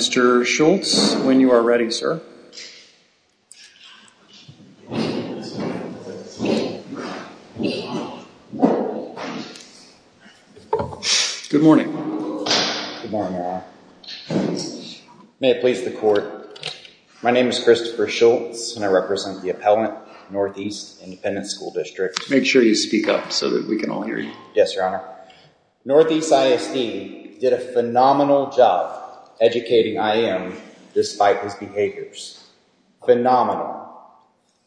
Schultz, when you are ready, sir. Good morning, Your Honor. May it please the court, my name is Christopher Schultz and I represent the appellant, Northeast Independent School District. Make sure you speak up so that we can all hear you. Yes, Your Honor. Northeast ISD did a phenomenal job educating IM despite his behaviors. Phenomenal.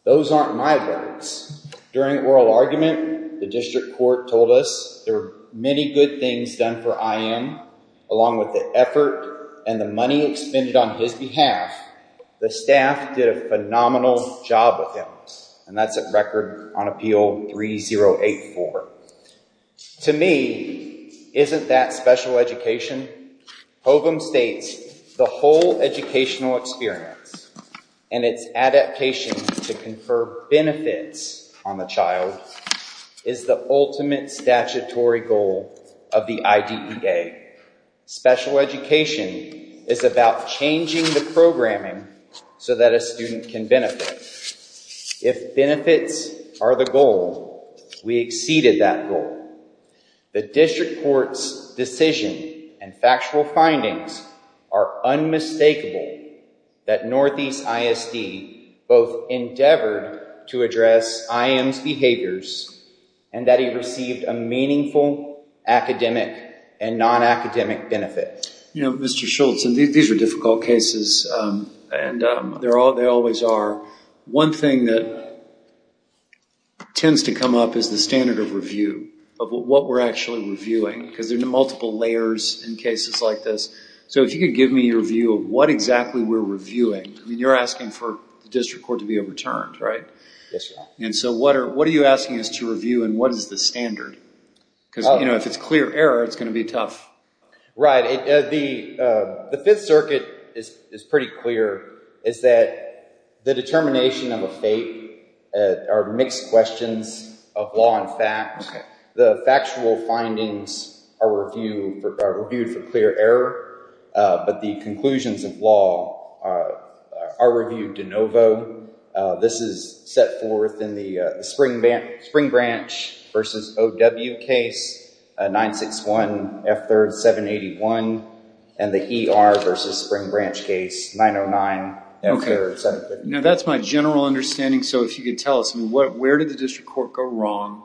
Those aren't my words. During oral argument, the district court told us there were many good things done for IM, along with the effort and the money expended on his behalf. The staff did a phenomenal job with him, and that's a record on Appeal 3084. To me, isn't that special education? Hovum states, the whole educational experience and its adaptation to confer benefits on the child is the ultimate statutory goal of the IDEA. Special education is about changing the programming so that a student can benefit. If benefits are the goal, we exceeded that goal. The district court's decision and factual findings are unmistakable that Northeast ISD both endeavored to address IM's behaviors and that he received a meaningful academic and non-academic benefit. You know, Mr. Schultz, these are difficult cases, and they always are. One thing that tends to come up is the standard of review, of what we're actually reviewing, because there are multiple layers in cases like this. So if you could give me your view of what exactly we're reviewing. I mean, you're asking for the district court to be overturned, right? Yes, Your Honor. And so what are you asking us to review, and what is the standard? Because, you know, if it's clear error, it's going to be tough. Right. The Fifth Circuit is pretty clear. It's that the determination of a fate are mixed questions of law and fact. The factual findings are reviewed for clear error, but the conclusions of law are reviewed de novo. This is set forth in the Spring Branch v. O.W. case, 961 F. 3rd 781, and the E.R. v. Spring Branch case, 909 F. 3rd 781. Now that's my general understanding, so if you could tell us, where did the district court go wrong,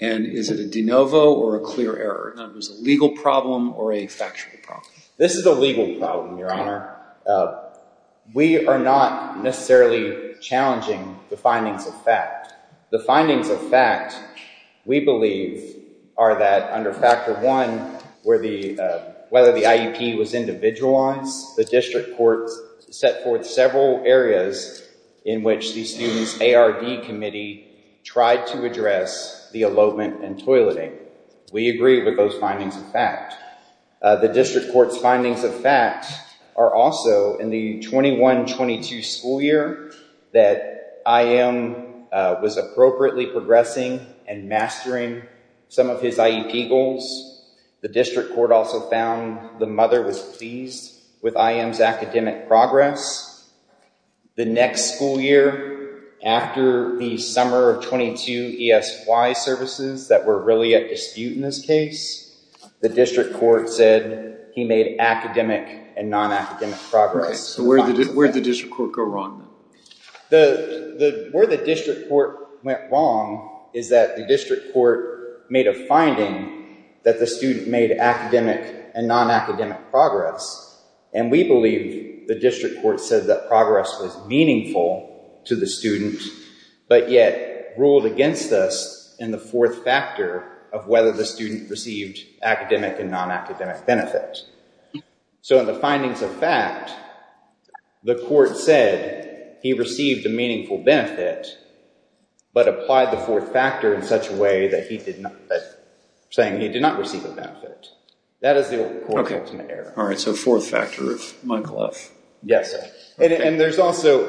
and is it a de novo or a clear error? Is it a legal problem or a factual problem? This is a legal problem, Your Honor. We are not necessarily challenging the findings of fact. The findings of fact, we believe, are that under Factor I, whether the IEP was individualized, the district court set forth several areas in which the Students ARD Committee tried to address the elopement and toileting. We agree with those findings of fact. The district court's findings of fact are also in the 21-22 school year that IM was appropriately progressing and mastering some of his IEP goals. The district court also found the mother was pleased with IM's academic progress. The next school year, after the summer of 22 ESY services that were really at dispute in this case, the district court said he made academic and non-academic progress. Where did the district court go wrong? Where the district court went wrong is that the district court made a finding that the student made academic and non-academic progress, and we believe the district court said that progress was meaningful to the student, but yet ruled against us in the fourth factor of whether the student received academic and non-academic benefit. So in the findings of fact, the court said he received a meaningful benefit, but applied the fourth factor in such a way that he did not receive a benefit. That is the court's ultimate error. All right, so fourth factor of Michael F. Yes, sir.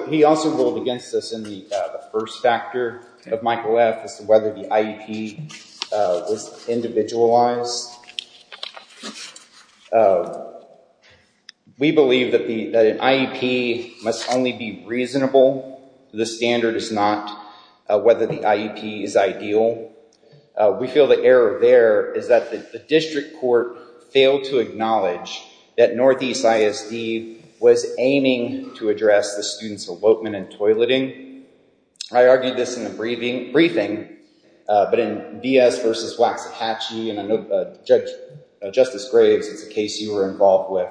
He also ruled against us in the first factor of Michael F. as to whether the IEP was individualized. We believe that an IEP must only be reasonable. The standard is not whether the IEP is ideal. We feel the error there is that the district court failed to acknowledge that Northeast ISD was aiming to address the student's elopement and toileting. I argued this in a briefing, but in Diaz versus Waxahachie, and I know Justice Graves, it's a case you were involved with.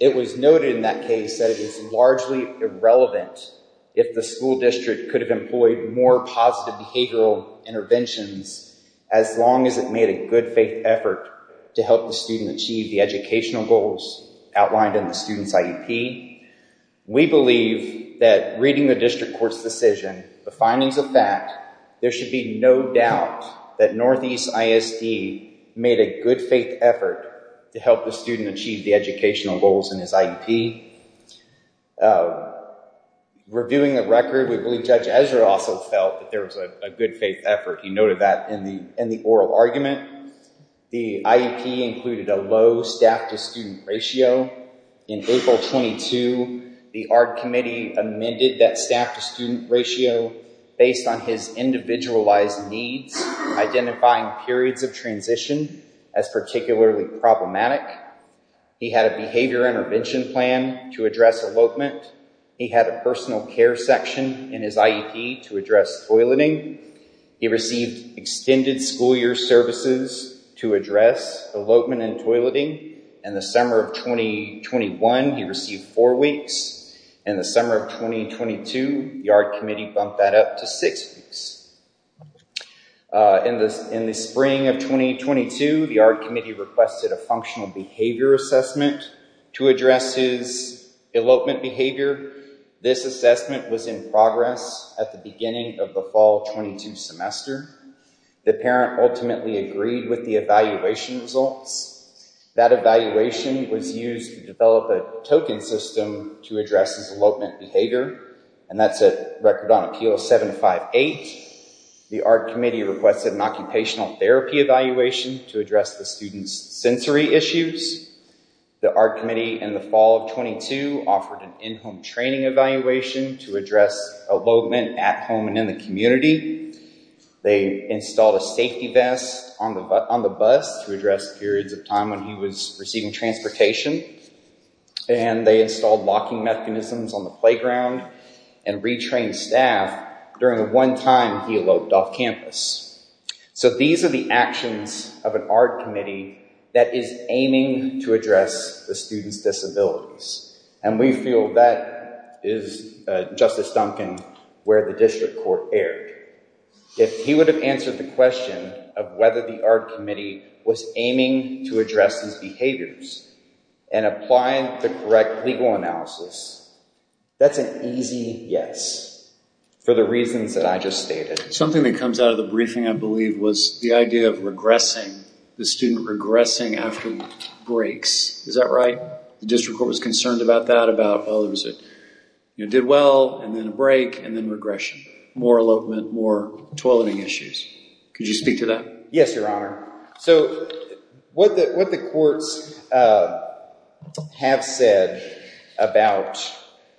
It was noted in that case that it is largely irrelevant if the school district could have employed more positive behavioral interventions, as long as it made a good faith effort to help the student achieve the educational goals outlined in the student's IEP. We believe that reading the district court's decision, the findings of fact, there should be no doubt that Northeast ISD made a good faith effort to help the student achieve the educational goals in his IEP. Reviewing the record, we believe Judge Ezra also felt that there was a good faith effort. He noted that in the oral argument. The IEP included a low staff-to-student ratio. In April 22, the ARD committee amended that staff-to-student ratio based on his individualized needs, identifying periods of transition as particularly problematic. He had a behavior intervention plan to address elopement. He had a personal care section in his IEP to address toileting. He received extended school year services to address elopement and toileting. In the summer of 2021, he received four weeks. In the summer of 2022, the ARD committee bumped that up to six weeks. In the spring of 2022, the ARD committee requested a functional behavior assessment to address his elopement behavior. This assessment was in progress at the beginning of the fall 22 semester. The parent ultimately agreed with the evaluation results. That evaluation was used to develop a token system to address his elopement behavior. And that's a record on appeal 758. The ARD committee requested an occupational therapy evaluation to address the student's sensory issues. The ARD committee in the fall of 22 offered an in-home training evaluation to address elopement at home and in the community. They installed a safety vest on the bus to address periods of time when he was receiving transportation. And they installed locking mechanisms on the playground and retrained staff during the one time he eloped off campus. So these are the actions of an ARD committee that is aiming to address the student's disabilities. And we feel that is, Justice Duncan, where the district court erred. If he would have answered the question of whether the ARD committee was aiming to address his behaviors and applying the correct legal analysis, that's an easy yes for the reasons that I just stated. Something that comes out of the briefing, I believe, was the idea of the student regressing after breaks. Is that right? The district court was concerned about that, about, oh, it did well, and then a break, and then regression. More elopement, more toileting issues. Could you speak to that? Yes, Your Honor. So what the courts have said about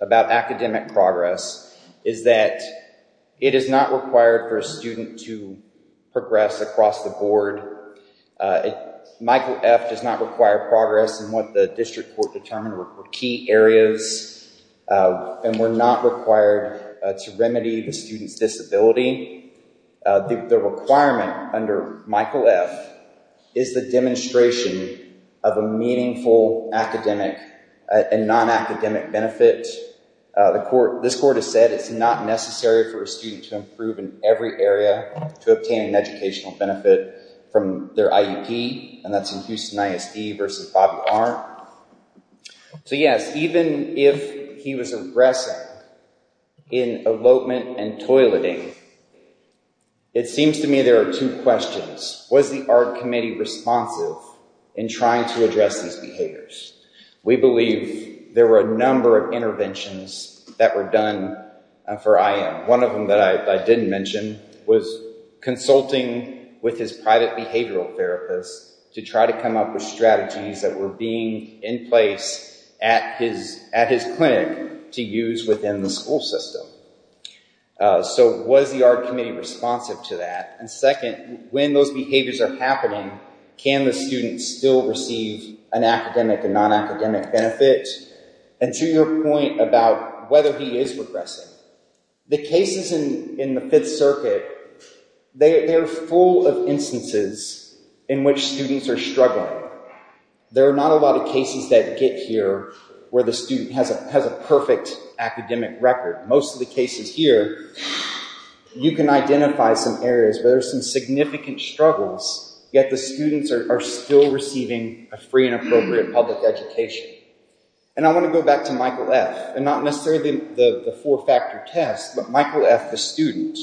academic progress is that it is not required for a student to progress across the board. Michael F. does not require progress in what the district court determined were key areas. And we're not required to remedy the student's disability. The requirement under Michael F. is the demonstration of a meaningful academic and non-academic benefit. This court has said it's not necessary for a student to improve in every area to obtain an educational benefit from their IEP, and that's in Houston ISD versus Bobby Arndt. So yes, even if he was regressing in elopement and toileting, it seems to me there are two questions. Was the art committee responsive in trying to address these behaviors? We believe there were a number of interventions that were done for IM. One of them that I didn't mention was consulting with his private behavioral therapist to try to come up with strategies that were being in place at his clinic to use within the school system. So was the art committee responsive to that? And second, when those behaviors are happening, can the student still receive an academic and non-academic benefit? And to your point about whether he is regressing, the cases in the Fifth Circuit, they are full of instances in which students are struggling. There are not a lot of cases that get here where the student has a perfect academic record. Most of the cases here, you can identify some areas where there are some significant struggles, yet the students are still receiving a free and appropriate public education. And I want to go back to Michael F., and not necessarily the four-factor test, but Michael F., the student.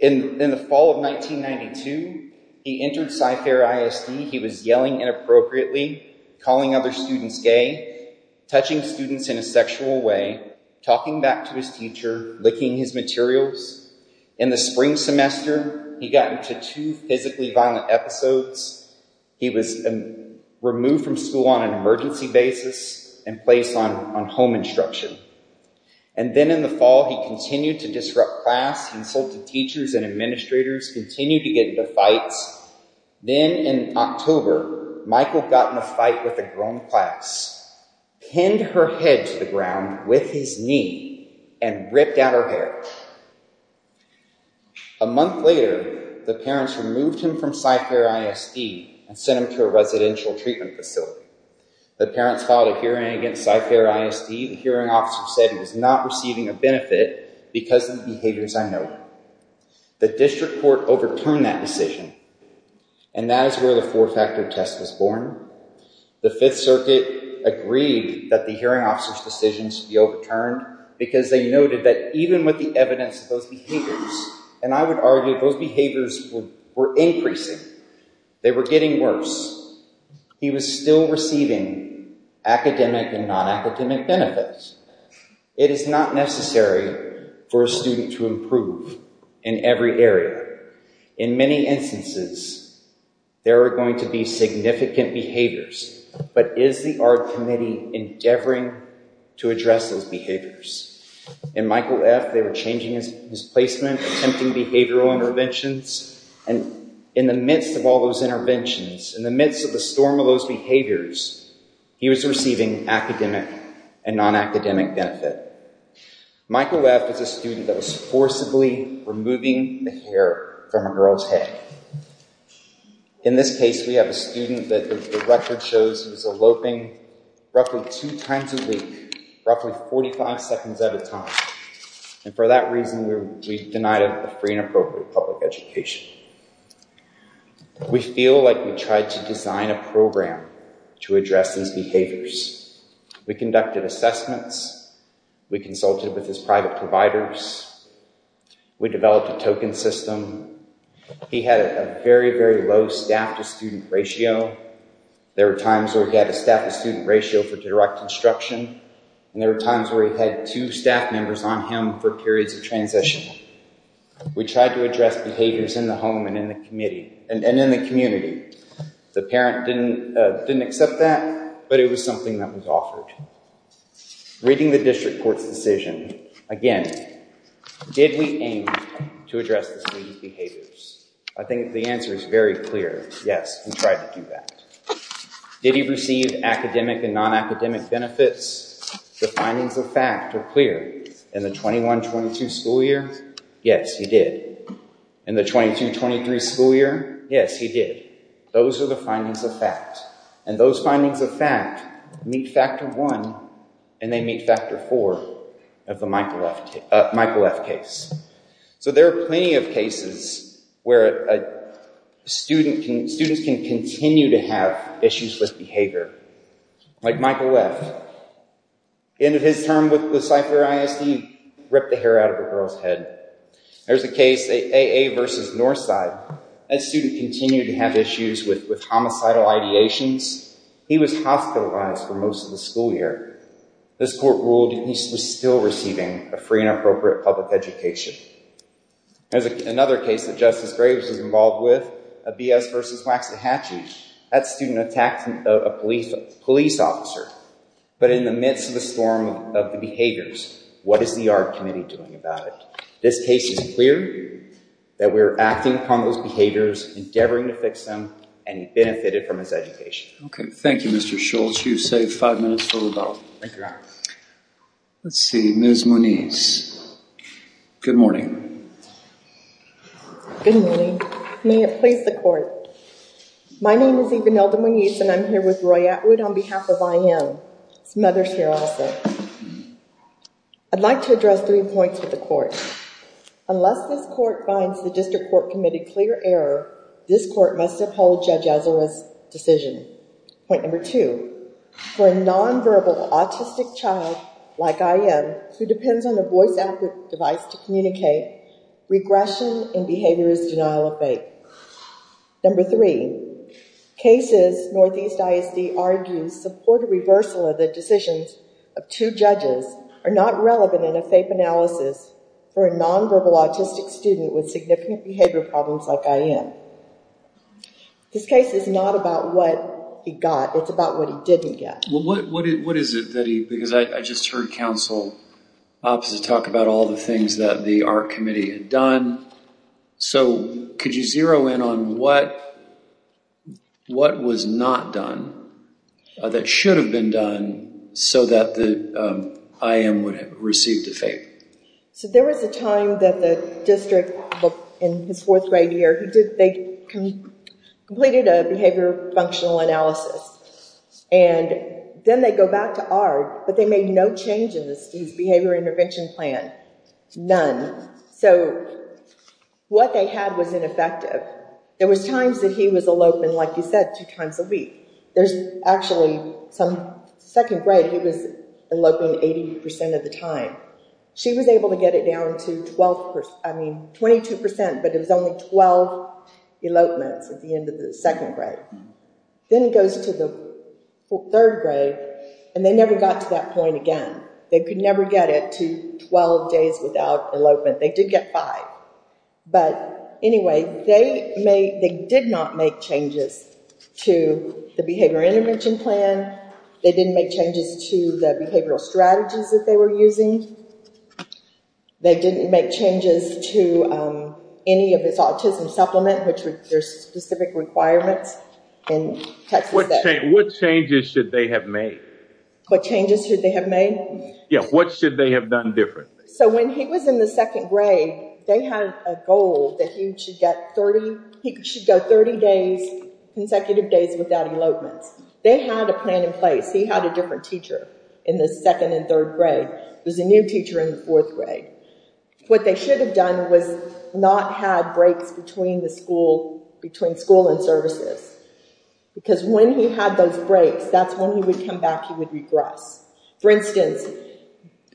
In the fall of 1992, he entered SciFair ISD. He was yelling inappropriately, calling other students gay, touching students in a sexual way, talking back to his teacher, licking his materials. In the spring semester, he got into two physically violent episodes. He was removed from school on an emergency basis and placed on home instruction. And then in the fall, he continued to disrupt class, insulted teachers and administrators, continued to get into fights. Then in October, Michael got in a fight with a girl in class, pinned her head to the ground with his knee, and ripped out her hair. A month later, the parents removed him from SciFair ISD and sent him to a residential treatment facility. The parents filed a hearing against SciFair ISD. The hearing officer said he was not receiving a benefit because of the behaviors I noted. The district court overturned that decision, and that is where the four-factor test was born. The Fifth Circuit agreed that the hearing officer's decision should be overturned because they noted that even with the evidence of those behaviors, and I would argue those behaviors were increasing, they were getting worse, he was still receiving academic and non-academic benefits. It is not necessary for a student to improve in every area. In many instances, there are going to be significant behaviors, but is the Art Committee endeavoring to address those behaviors? In Michael F., they were changing his placement, attempting behavioral interventions, and in the midst of all those interventions, in the midst of the storm of those behaviors, he was receiving academic and non-academic benefit. Michael F. is a student that was forcibly removing the hair from a girl's head. In this case, we have a student that the record shows was eloping roughly two times a week, roughly 45 seconds at a time, and for that reason, we've denied him a free and appropriate public education. We feel like we tried to design a program to address these behaviors. We conducted assessments. We consulted with his private providers. We developed a token system. He had a very, very low staff-to-student ratio. There were times where he had a staff-to-student ratio for direct instruction, and there were times where he had two staff members on him for periods of transition. We tried to address behaviors in the home and in the community. The parent didn't accept that, but it was something that was offered. Reading the district court's decision, again, did we aim to address the student's behaviors? I think the answer is very clear, yes, we tried to do that. Did he receive academic and non-academic benefits? The findings of fact are clear. In the 21-22 school year, yes, he did. In the 22-23 school year, yes, he did. Those are the findings of fact, and those findings of fact meet factor one, and they meet factor four of the Michael F. case. There are plenty of cases where students can continue to have issues with behavior. Like Michael F., the end of his term with the Cypher ISD, he ripped the hair out of a girl's head. There's a case, AA v. Northside. That student continued to have issues with homicidal ideations. He was hospitalized for most of the school year. This court ruled he was still receiving a free and appropriate public education. There's another case that Justice Graves was involved with, BS v. Waxahachie. That student attacked a police officer, but in the midst of the storm of the behaviors. What is the Art Committee doing about it? This case is clear that we're acting upon those behaviors, endeavoring to fix them, and he benefited from his education. Okay. Thank you, Mr. Schultz. You've saved five minutes for rebuttal. Thank you, Your Honor. Let's see. Ms. Moniz. Good morning. Good morning. May it please the Court. My name is Evanelda Moniz, and I'm here with Roy Atwood on behalf of IM. Some others here also. I'd like to address three points with the Court. Unless this Court finds the District Court Committee clear error, this Court must uphold Judge Ezra's decision. Point number two, for a nonverbal autistic child like IM, who depends on a voice-active device to communicate, regression in behavior is denial of faith. Number three, cases Northeast ISD argues support a reversal of the decisions of two judges are not relevant in a faith analysis for a nonverbal autistic student with significant behavior problems like IM. This case is not about what he got. It's about what he didn't get. What is it that he—because I just heard counsel opposite talk about all the things that the Art Committee had done. So could you zero in on what was not done that should have been done so that the IM would have received a favor? So there was a time that the District, in his fourth grade year, they completed a behavior functional analysis. And then they go back to Art, but they made no change in his behavior intervention plan. None. So what they had was ineffective. There was times that he was eloping, like you said, two times a week. There's actually some—second grade, he was eloping 80% of the time. She was able to get it down to 12%, I mean, 22%, but it was only 12 elopements at the end of the second grade. Then it goes to the third grade, and they never got to that point again. They could never get it to 12 days without elopement. They did get five. But anyway, they did not make changes to the behavior intervention plan. They didn't make changes to the behavioral strategies that they were using. They didn't make changes to any of his autism supplement, which there's specific requirements in Texas State. What changes should they have made? What changes should they have made? Yeah, what should they have done differently? So when he was in the second grade, they had a goal that he should get 30— he should go 30 consecutive days without elopements. They had a plan in place. He had a different teacher in the second and third grade. There was a new teacher in the fourth grade. What they should have done was not have breaks between school and services because when he had those breaks, that's when he would come back. He would regress. For instance,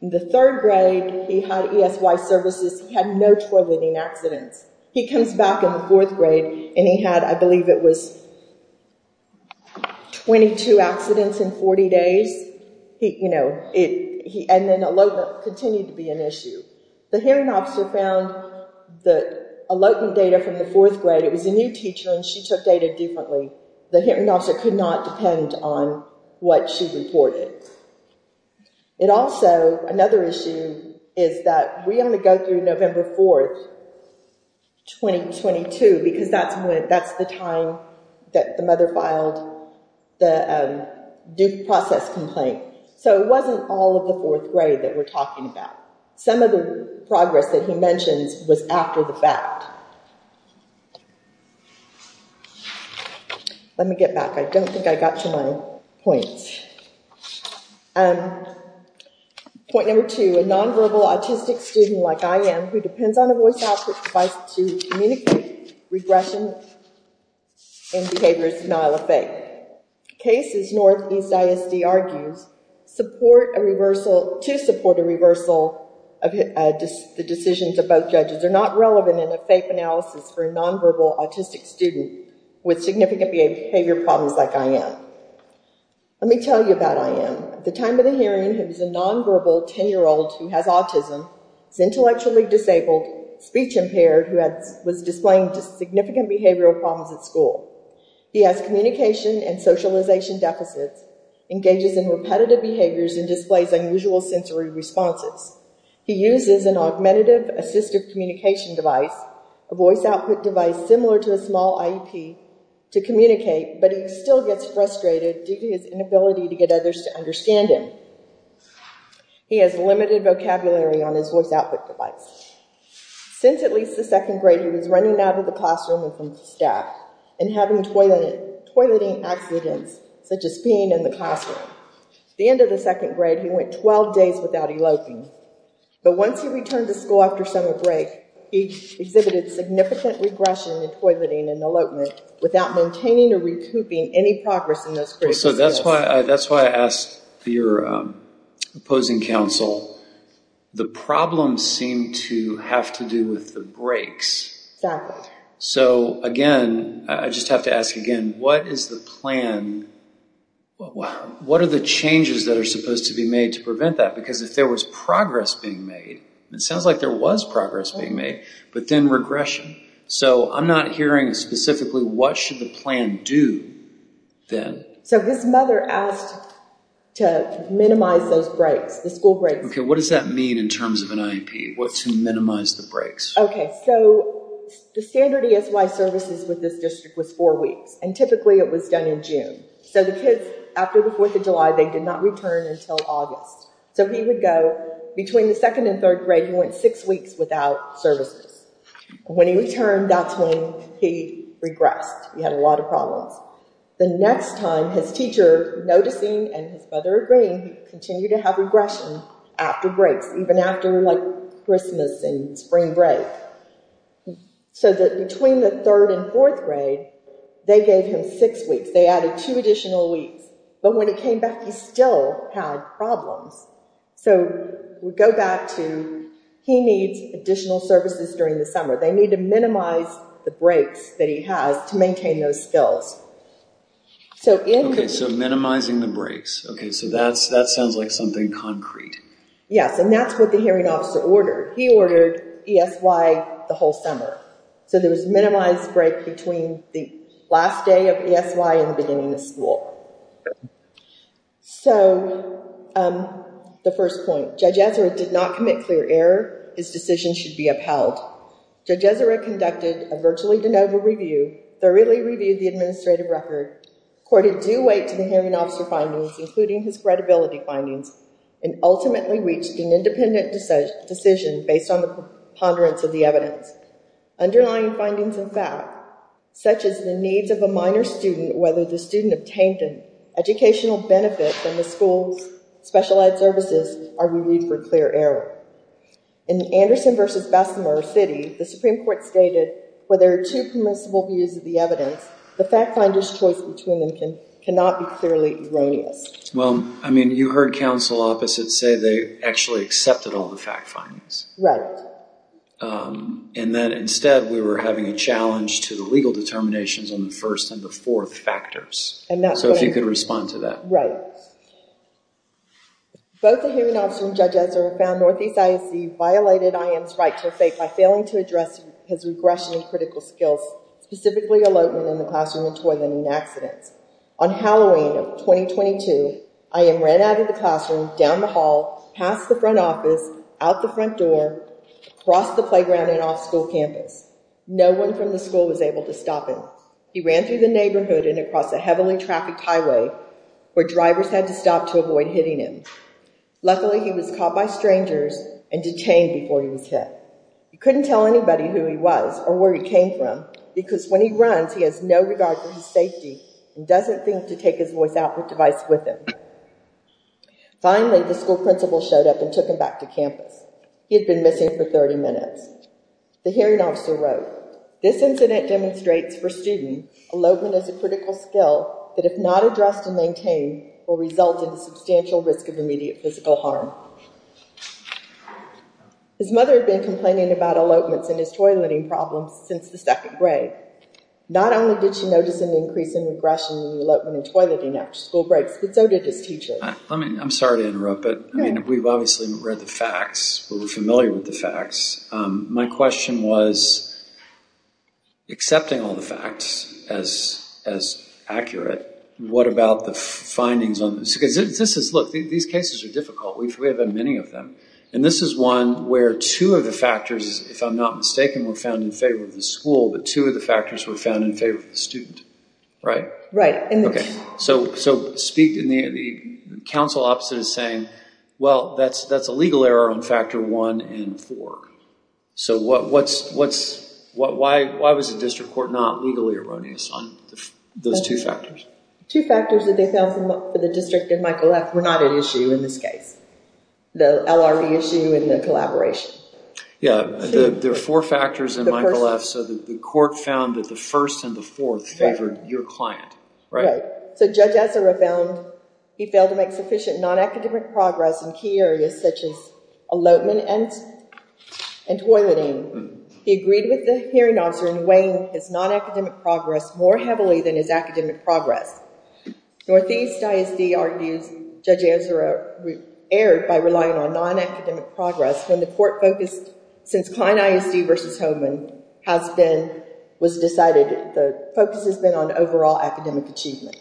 in the third grade, he had ESY services. He had no toileting accidents. He comes back in the fourth grade, and he had, I believe it was, 22 accidents in 40 days. And then elopement continued to be an issue. The hearing officer found the elopement data from the fourth grade. It was a new teacher, and she took data differently. The hearing officer could not depend on what she reported. It also—another issue is that we only go through November 4th, 2022, because that's the time that the mother filed the due process complaint. So it wasn't all of the fourth grade that we're talking about. Some of the progress that he mentions was after the fact. Let me get back. I don't think I got to my points. Point number two, a nonverbal autistic student like I am who depends on a voice output device to communicate regression in behaviors denial of faith. Cases Northeast ISD argues to support a reversal of the decisions of both judges are not relevant in a faith analysis for a nonverbal autistic student with significant behavior problems like I am. Let me tell you about I am. At the time of the hearing, he was a nonverbal 10-year-old who has autism, is intellectually disabled, speech impaired, who was displaying significant behavioral problems at school. He has communication and socialization deficits, engages in repetitive behaviors, and displays unusual sensory responses. He uses an augmentative assistive communication device, a voice output device similar to a small IEP, to communicate, but he still gets frustrated due to his inability to get others to understand him. He has limited vocabulary on his voice output device. Since at least the second grade, he was running out of the classroom and from staff and having toileting accidents such as peeing in the classroom. At the end of the second grade, he went 12 days without eloping. But once he returned to school after summer break, he exhibited significant regression in toileting and elopement without maintaining or recouping any progress in those critical skills. So that's why I asked for your opposing counsel. The problems seem to have to do with the breaks. Exactly. So again, I just have to ask again, what is the plan? What are the changes that are supposed to be made to prevent that? Because if there was progress being made, it sounds like there was progress being made, but then regression. So I'm not hearing specifically what should the plan do then. So his mother asked to minimize those breaks, the school breaks. Okay, what does that mean in terms of an IEP? What's to minimize the breaks? Okay, so the standard ESY services with this district was four weeks, and typically it was done in June. So the kids, after the Fourth of July, they did not return until August. So he would go between the second and third grade, he went six weeks without services. When he returned, that's when he regressed. He had a lot of problems. The next time, his teacher noticing and his mother agreeing, he continued to have regression after breaks, even after Christmas and spring break. So between the third and fourth grade, they gave him six weeks. They added two additional weeks. But when he came back, he still had problems. So we go back to he needs additional services during the summer. They need to minimize the breaks that he has to maintain those skills. Okay, so minimizing the breaks. Okay, so that sounds like something concrete. Yes, and that's what the hearing officer ordered. He ordered ESY the whole summer. So there was a minimized break between the last day of ESY and the beginning of school. So the first point, Judge Ezra did not commit clear error. His decision should be upheld. Judge Ezra conducted a virtually de novo review, thoroughly reviewed the administrative record, accorded due weight to the hearing officer findings, including his credibility findings, and ultimately reached an independent decision based on the preponderance of the evidence. Underlying findings of fact, such as the needs of a minor student, whether the student obtained an educational benefit from the school's specialized services, are reviewed for clear error. In Anderson v. Bessemer City, the Supreme Court stated, where there are two permissible views of the evidence, the fact finder's choice between them cannot be clearly erroneous. Well, I mean, you heard counsel opposite say they actually accepted all the fact findings. And that, instead, we were having a challenge to the legal determinations on the first and the fourth factors. So if you could respond to that. Right. Both the hearing officer and Judge Ezra found Northeast ISD violated IM's right to effect by failing to address his regression and critical skills, specifically elopement in the classroom and toileting accidents. On Halloween of 2022, IM ran out of the classroom, down the hall, past the front office, out the front door, across the playground and off school campus. No one from the school was able to stop him. He ran through the neighborhood and across a heavily trafficked highway where drivers had to stop to avoid hitting him. Luckily, he was caught by strangers and detained before he was hit. He couldn't tell anybody who he was or where he came from because when he runs, he has no regard for his safety and doesn't think to take his voice output device with him. Finally, the school principal showed up and took him back to campus. He had been missing for 30 minutes. The hearing officer wrote, this incident demonstrates for student elopement is a critical skill that if not addressed and maintained will result in a substantial risk of immediate physical harm. His mother had been complaining about elopements and his toileting problems since the second grade. Not only did she notice an increase in regression in elopement and toileting after school breaks, but so did his teacher. I'm sorry to interrupt, but we've obviously read the facts. We're familiar with the facts. My question was, accepting all the facts as accurate, what about the findings on this? Because this is, look, these cases are difficult. We have had many of them, and this is one where two of the factors, if I'm not mistaken, were found in favor of the school, but two of the factors were found in favor of the student, right? Right. Okay, so speak, and the counsel opposite is saying, well, that's a legal error on factor one and four. So why was the district court not legally erroneous on those two factors? Two factors that they found for the district in Michael F. were not at issue in this case, the LRE issue and the collaboration. Yeah, there are four factors in Michael F. So the court found that the first and the fourth favored your client. Right. So Judge Ezra found he failed to make sufficient non-academic progress in key areas such as elopement and toileting. He agreed with the hearing officer in weighing his non-academic progress more heavily than his academic progress. Northeast ISD argues Judge Ezra erred by relying on non-academic progress when the court focused, since Klein ISD versus Holman has been, was decided, the focus has been on overall academic achievement.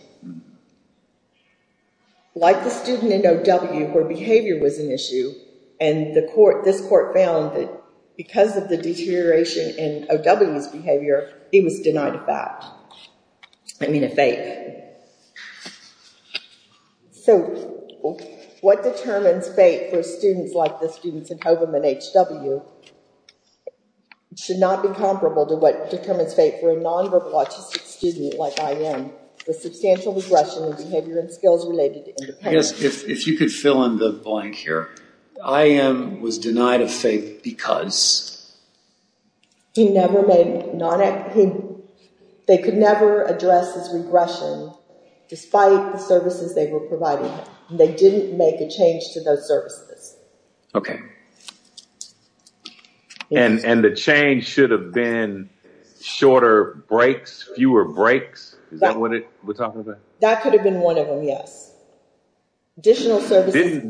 Like the student in O.W. where behavior was an issue, and this court found that because of the deterioration in O.W.'s behavior, he was denied a fact. What do you mean a fact? So what determines fate for students like the students in Holman and H.W. should not be comparable to what determines fate for a non-verbal autistic student like I.M. with substantial regression in behavior and skills related to independence. If you could fill in the blank here, I.M. was denied a fact because? They could never address his regression despite the services they were providing. They didn't make a change to those services. And the change should have been shorter breaks, fewer breaks? Is that what we're talking about? That could have been one of them, yes. Didn't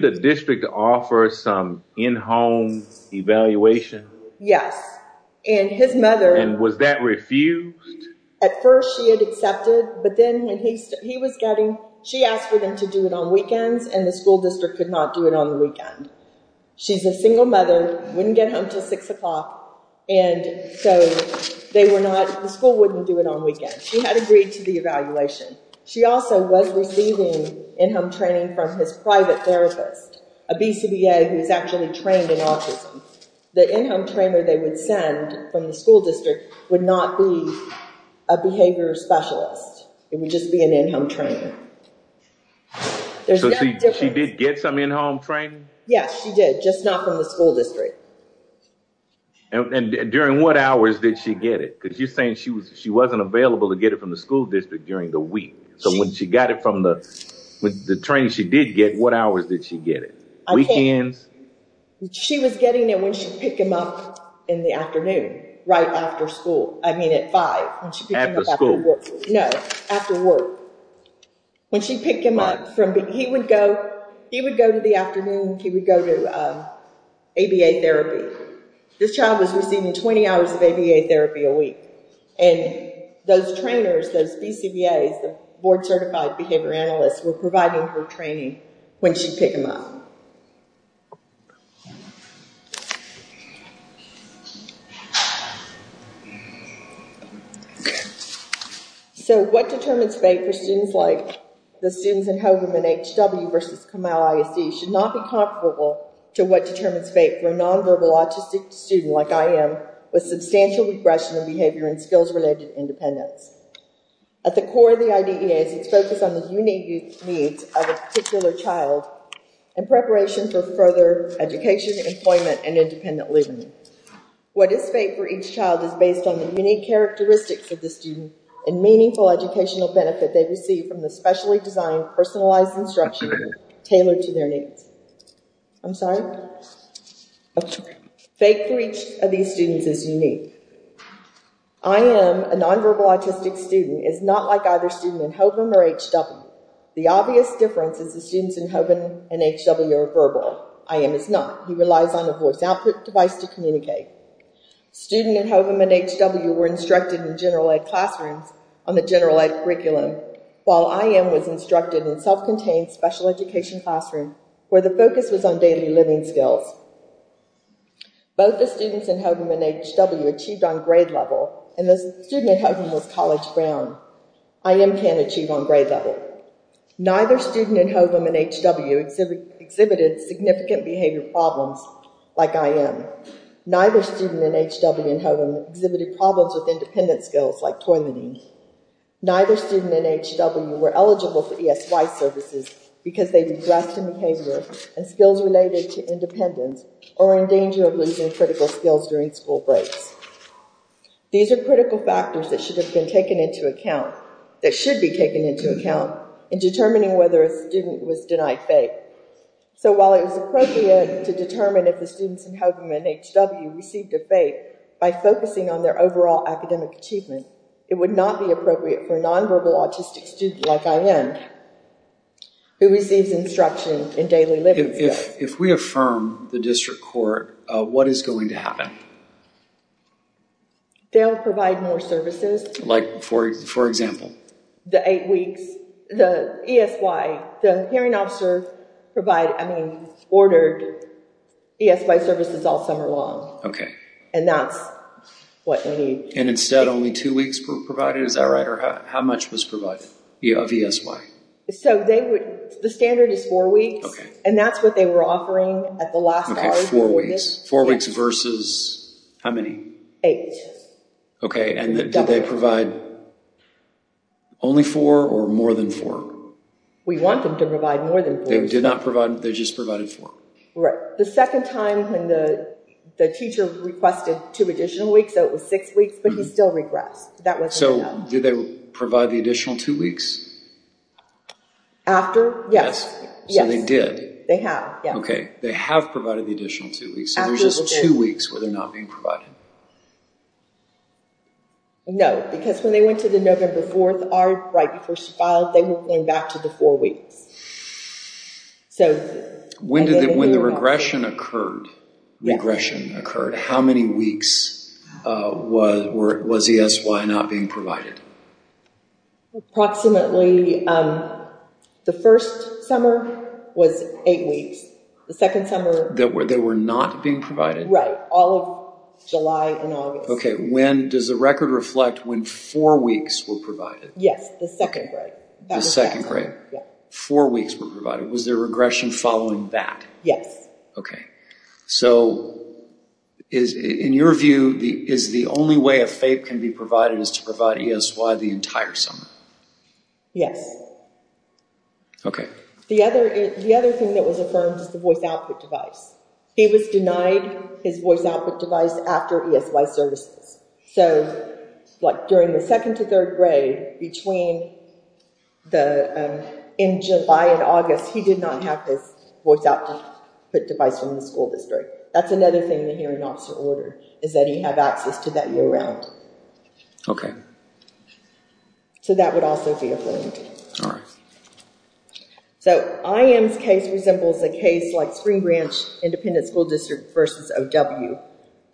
the district offer some in-home evaluation? Yes. And was that refused? At first she had accepted, but then she asked for them to do it on weekends, and the school district could not do it on the weekend. She's a single mother, wouldn't get home until 6 o'clock, and so the school wouldn't do it on weekends. She had agreed to the evaluation. She also was receiving in-home training from his private therapist, a BCBA who's actually trained in autism. The in-home trainer they would send from the school district would not be a behavior specialist. It would just be an in-home trainer. So she did get some in-home training? Yes, she did, just not from the school district. And during what hours did she get it? Because you're saying she wasn't available to get it from the school district during the week. So when she got it from the training she did get, what hours did she get it? Weekends? She was getting it when she'd pick him up in the afternoon right after school, I mean at 5. After school? No, after work. When she'd pick him up, he would go to the afternoon, he would go to ABA therapy. This child was receiving 20 hours of ABA therapy a week. And those trainers, those BCBAs, the board-certified behavior analysts, were providing her training when she'd pick him up. So what determines fate for students like the students in HW versus Camille ISD should not be comparable to what determines fate for a non-verbal autistic student like I am with substantial regression in behavior and skills-related independence. At the core of the IDEA is its focus on the unique needs of a particular child in preparation for further education, employment, and independent living. What is fate for each child is based on the unique characteristics of the student and meaningful educational benefit they receive from the specially designed, personalized instruction tailored to their needs. I'm sorry? I'm sorry. Fate for each of these students is unique. I am, a non-verbal autistic student, is not like either student in HOVM or HW. The obvious difference is the students in HOVM and HW are verbal. I am is not. He relies on a voice output device to communicate. Student in HOVM and HW were instructed in general ed classrooms on the general ed curriculum, while I am was instructed in self-contained special education classrooms where the focus was on daily living skills. Both the students in HOVM and HW achieved on grade level, and the student in HOVM was college-bound. I am can't achieve on grade level. Neither student in HOVM and HW exhibited significant behavior problems like I am. Neither student in HOVM and HW exhibited problems with independent skills like toileting. Neither student in HW were eligible for ESY services because they regressed in behavior and skills related to independence or were in danger of losing critical skills during school breaks. These are critical factors that should have been taken into account, that should be taken into account in determining whether a student was denied fate. So while it was appropriate to determine if the students in HOVM and HW received a fate by focusing on their overall academic achievement, it would not be appropriate for a nonverbal autistic student like I am, who receives instruction in daily living skills. If we affirm the district court, what is going to happen? They'll provide more services. Like, for example? The eight weeks, the ESY, the hearing officer provided, I mean, ordered ESY services all summer long. Okay. And that's what we need. And instead only two weeks were provided, is that right? Or how much was provided of ESY? So they would, the standard is four weeks. Okay. And that's what they were offering at the last hour. Okay, four weeks. Four weeks versus how many? Eight. Okay, and did they provide only four or more than four? We want them to provide more than four. They did not provide, they just provided four. The second time when the teacher requested two additional weeks, so it was six weeks, but he still regressed. So did they provide the additional two weeks? After, yes. So they did? They have, yeah. Okay, they have provided the additional two weeks. So there's just two weeks where they're not being provided. No, because when they went to the November 4th, right before she filed, they went back to the four weeks. When the regression occurred, how many weeks was ESY not being provided? Approximately, the first summer was eight weeks. The second summer. They were not being provided? Right, all of July and August. Okay, does the record reflect when four weeks were provided? Yes, the second grade. The second grade. Four weeks were provided. Was there regression following that? Okay. So in your view, is the only way a FAPE can be provided is to provide ESY the entire summer? Yes. Okay. The other thing that was affirmed was the voice output device. He was denied his voice output device after ESY services. So during the second to third grade, in July and August, he did not have his voice output device from the school district. That's another thing the hearing officer ordered, is that he have access to that year-round. Okay. So that would also be affirmed. All right. So IM's case resembles a case like Spring Branch Independent School District versus O.W.,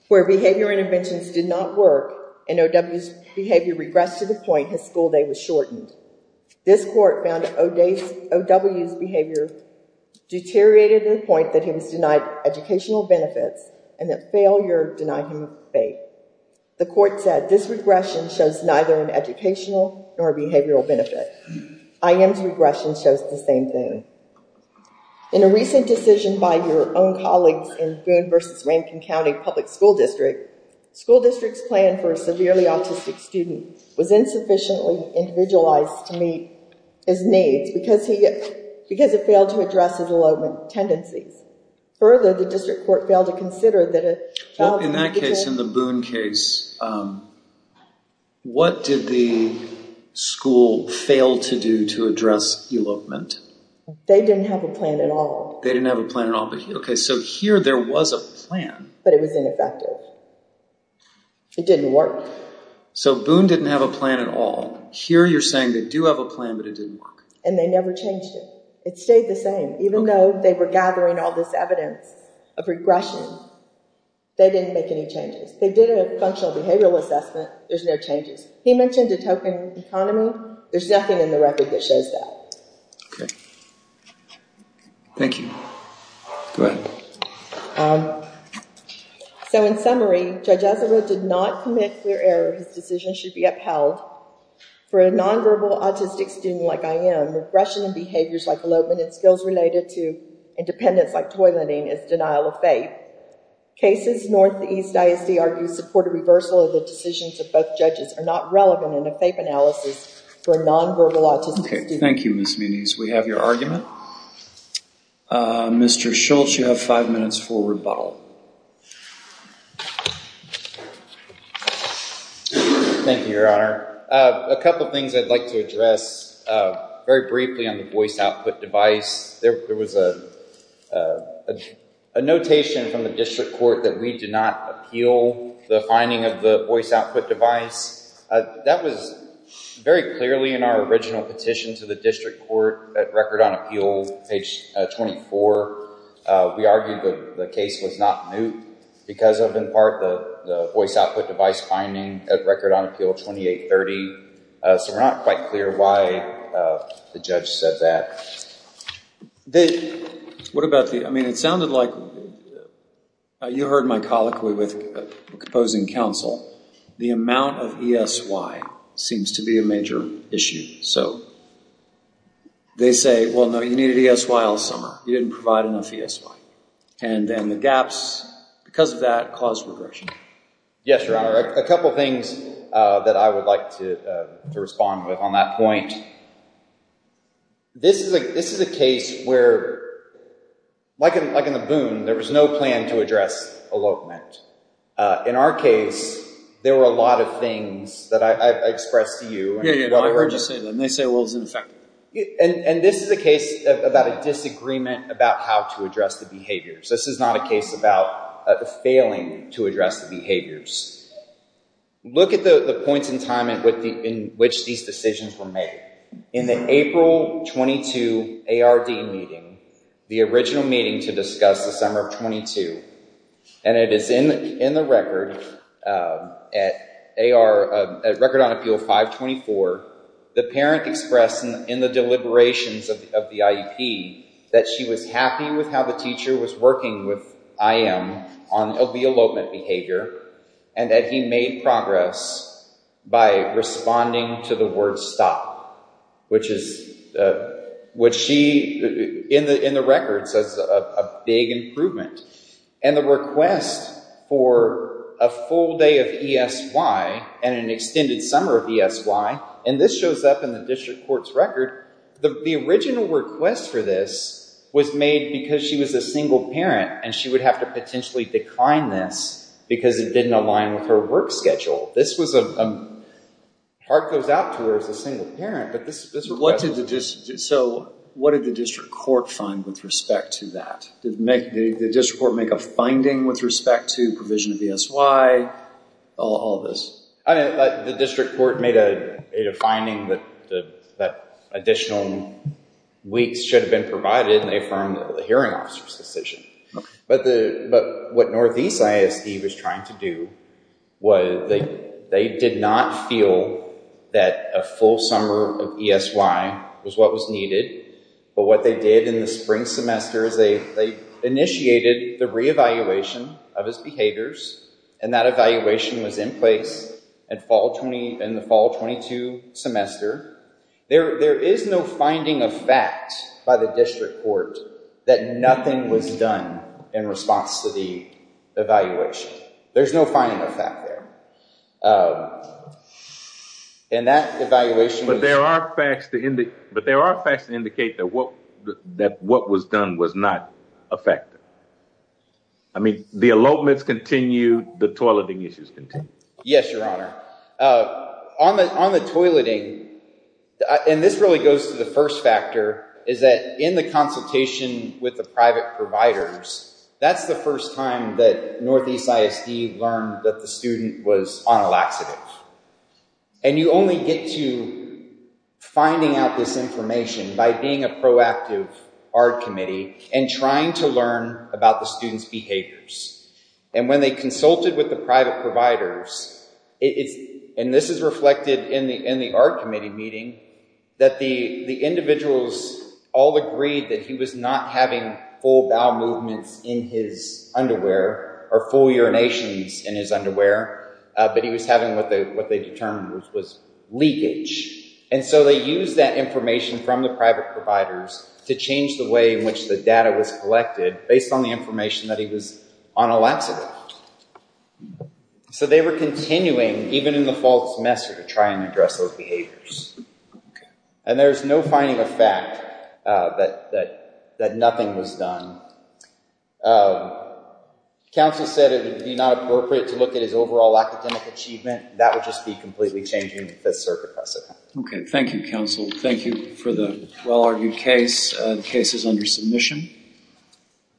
where behavior interventions did not work, and O.W.'s behavior regressed to the point his school day was shortened. This court found O.W.'s behavior deteriorated to the point that he was denied educational benefits and that failure denied him FAPE. The court said this regression shows neither an educational nor a behavioral benefit. IM's regression shows the same thing. In a recent decision by your own colleagues in Boone versus Rankin County Public School District, school district's plan for a severely autistic student was insufficiently individualized to meet his needs because it failed to address his elopement tendencies. Further, the district court failed to consider that a child... In that case, in the Boone case, what did the school fail to do to address elopement? They didn't have a plan at all. They didn't have a plan at all. Okay, so here there was a plan. But it was ineffective. It didn't work. So Boone didn't have a plan at all. Here you're saying they do have a plan, but it didn't work. And they never changed it. It stayed the same. Even though they were gathering all this evidence of regression, they didn't make any changes. They did a functional behavioral assessment. There's no changes. He mentioned a token economy. There's nothing in the record that shows that. Okay. Thank you. So in summary, Judge Azzaro did not commit clear error. His decision should be upheld. For a nonverbal autistic student like I am, regression in behaviors like elopement and skills related to independence like toileting is denial of faith. Cases Northeast ISD argues support a reversal of the decisions of both judges are not relevant in a FAPE analysis for a nonverbal autistic student. Okay. Thank you, Ms. Menees. We have your argument. Mr. Schultz, you have five minutes for rebuttal. Thank you, Your Honor. A couple things I'd like to address very briefly on the voice output device. There was a notation from the district court that we did not appeal the finding of the voice output device. That was very clearly in our original petition to the district court at Record on Appeal, page 24. We argued that the case was not moot because of, in part, the voice output device finding at Record on Appeal 2830. So we're not quite clear why the judge said that. What about the – I mean, it sounded like you heard my colloquy with opposing counsel. The amount of ESY seems to be a major issue. So they say, well, no, you needed ESY all summer. You didn't provide enough ESY. And then the gaps because of that caused regression. Yes, Your Honor. A couple things that I would like to respond with on that point. This is a case where, like in the boon, there was no plan to address elopement. In our case, there were a lot of things that I expressed to you. Yeah, yeah. I heard you say them. They say, well, it's ineffective. And this is a case about a disagreement about how to address the behaviors. This is not a case about failing to address the behaviors. Look at the points in time in which these decisions were made. In the April 22 ARD meeting, the original meeting to discuss the summer of 22, and it is in the record at Record on Appeal 524, the parent expressed in the deliberations of the IEP that she was happy with how the teacher was working with IM on the elopement behavior and that he made progress by responding to the word stop, which she, in the record, says a big improvement. And the request for a full day of ESY and an extended summer of ESY, and this shows up in the district court's record, the original request for this was made because she was a single parent and she would have to potentially decline this because it didn't align with her work schedule. This was a heart goes out to her as a single parent. So what did the district court find with respect to that? Did the district court make a finding with respect to provision of ESY, all this? The district court made a finding that additional weeks should have been provided, and they affirmed the hearing officer's decision. But what Northeast ISD was trying to do was they did not feel that a full summer of ESY was what was needed, but what they did in the spring semester is they initiated the reevaluation of his behaviors, and that evaluation was in place in the fall 22 semester. There is no finding of fact by the district court that nothing was done in response to the evaluation. There's no finding of fact there. But there are facts that indicate that what was done was not effective. I mean, the elopements continue, the toileting issues continue. Yes, Your Honor. On the toileting, and this really goes to the first factor, is that in the consultation with the private providers, that's the first time that Northeast ISD learned that the student was on a laxative. And you only get to finding out this information by being a proactive ARD committee and trying to learn about the student's behaviors. And when they consulted with the private providers, and this is reflected in the ARD committee meeting, that the individuals all agreed that he was not having full bowel movements in his underwear or full urinations in his underwear, but he was having what they determined was leakage. And so they used that information from the private providers to change the way in which the data was collected based on the information that he was on a laxative. So they were continuing, even in the fall semester, to try and address those behaviors. And there's no finding of fact that nothing was done. Counsel said it would be not appropriate to look at his overall academic achievement. That would just be completely changing the Fifth Circuit precedent. Okay. Thank you, counsel. Thank you for the well-argued case. The case is under submission.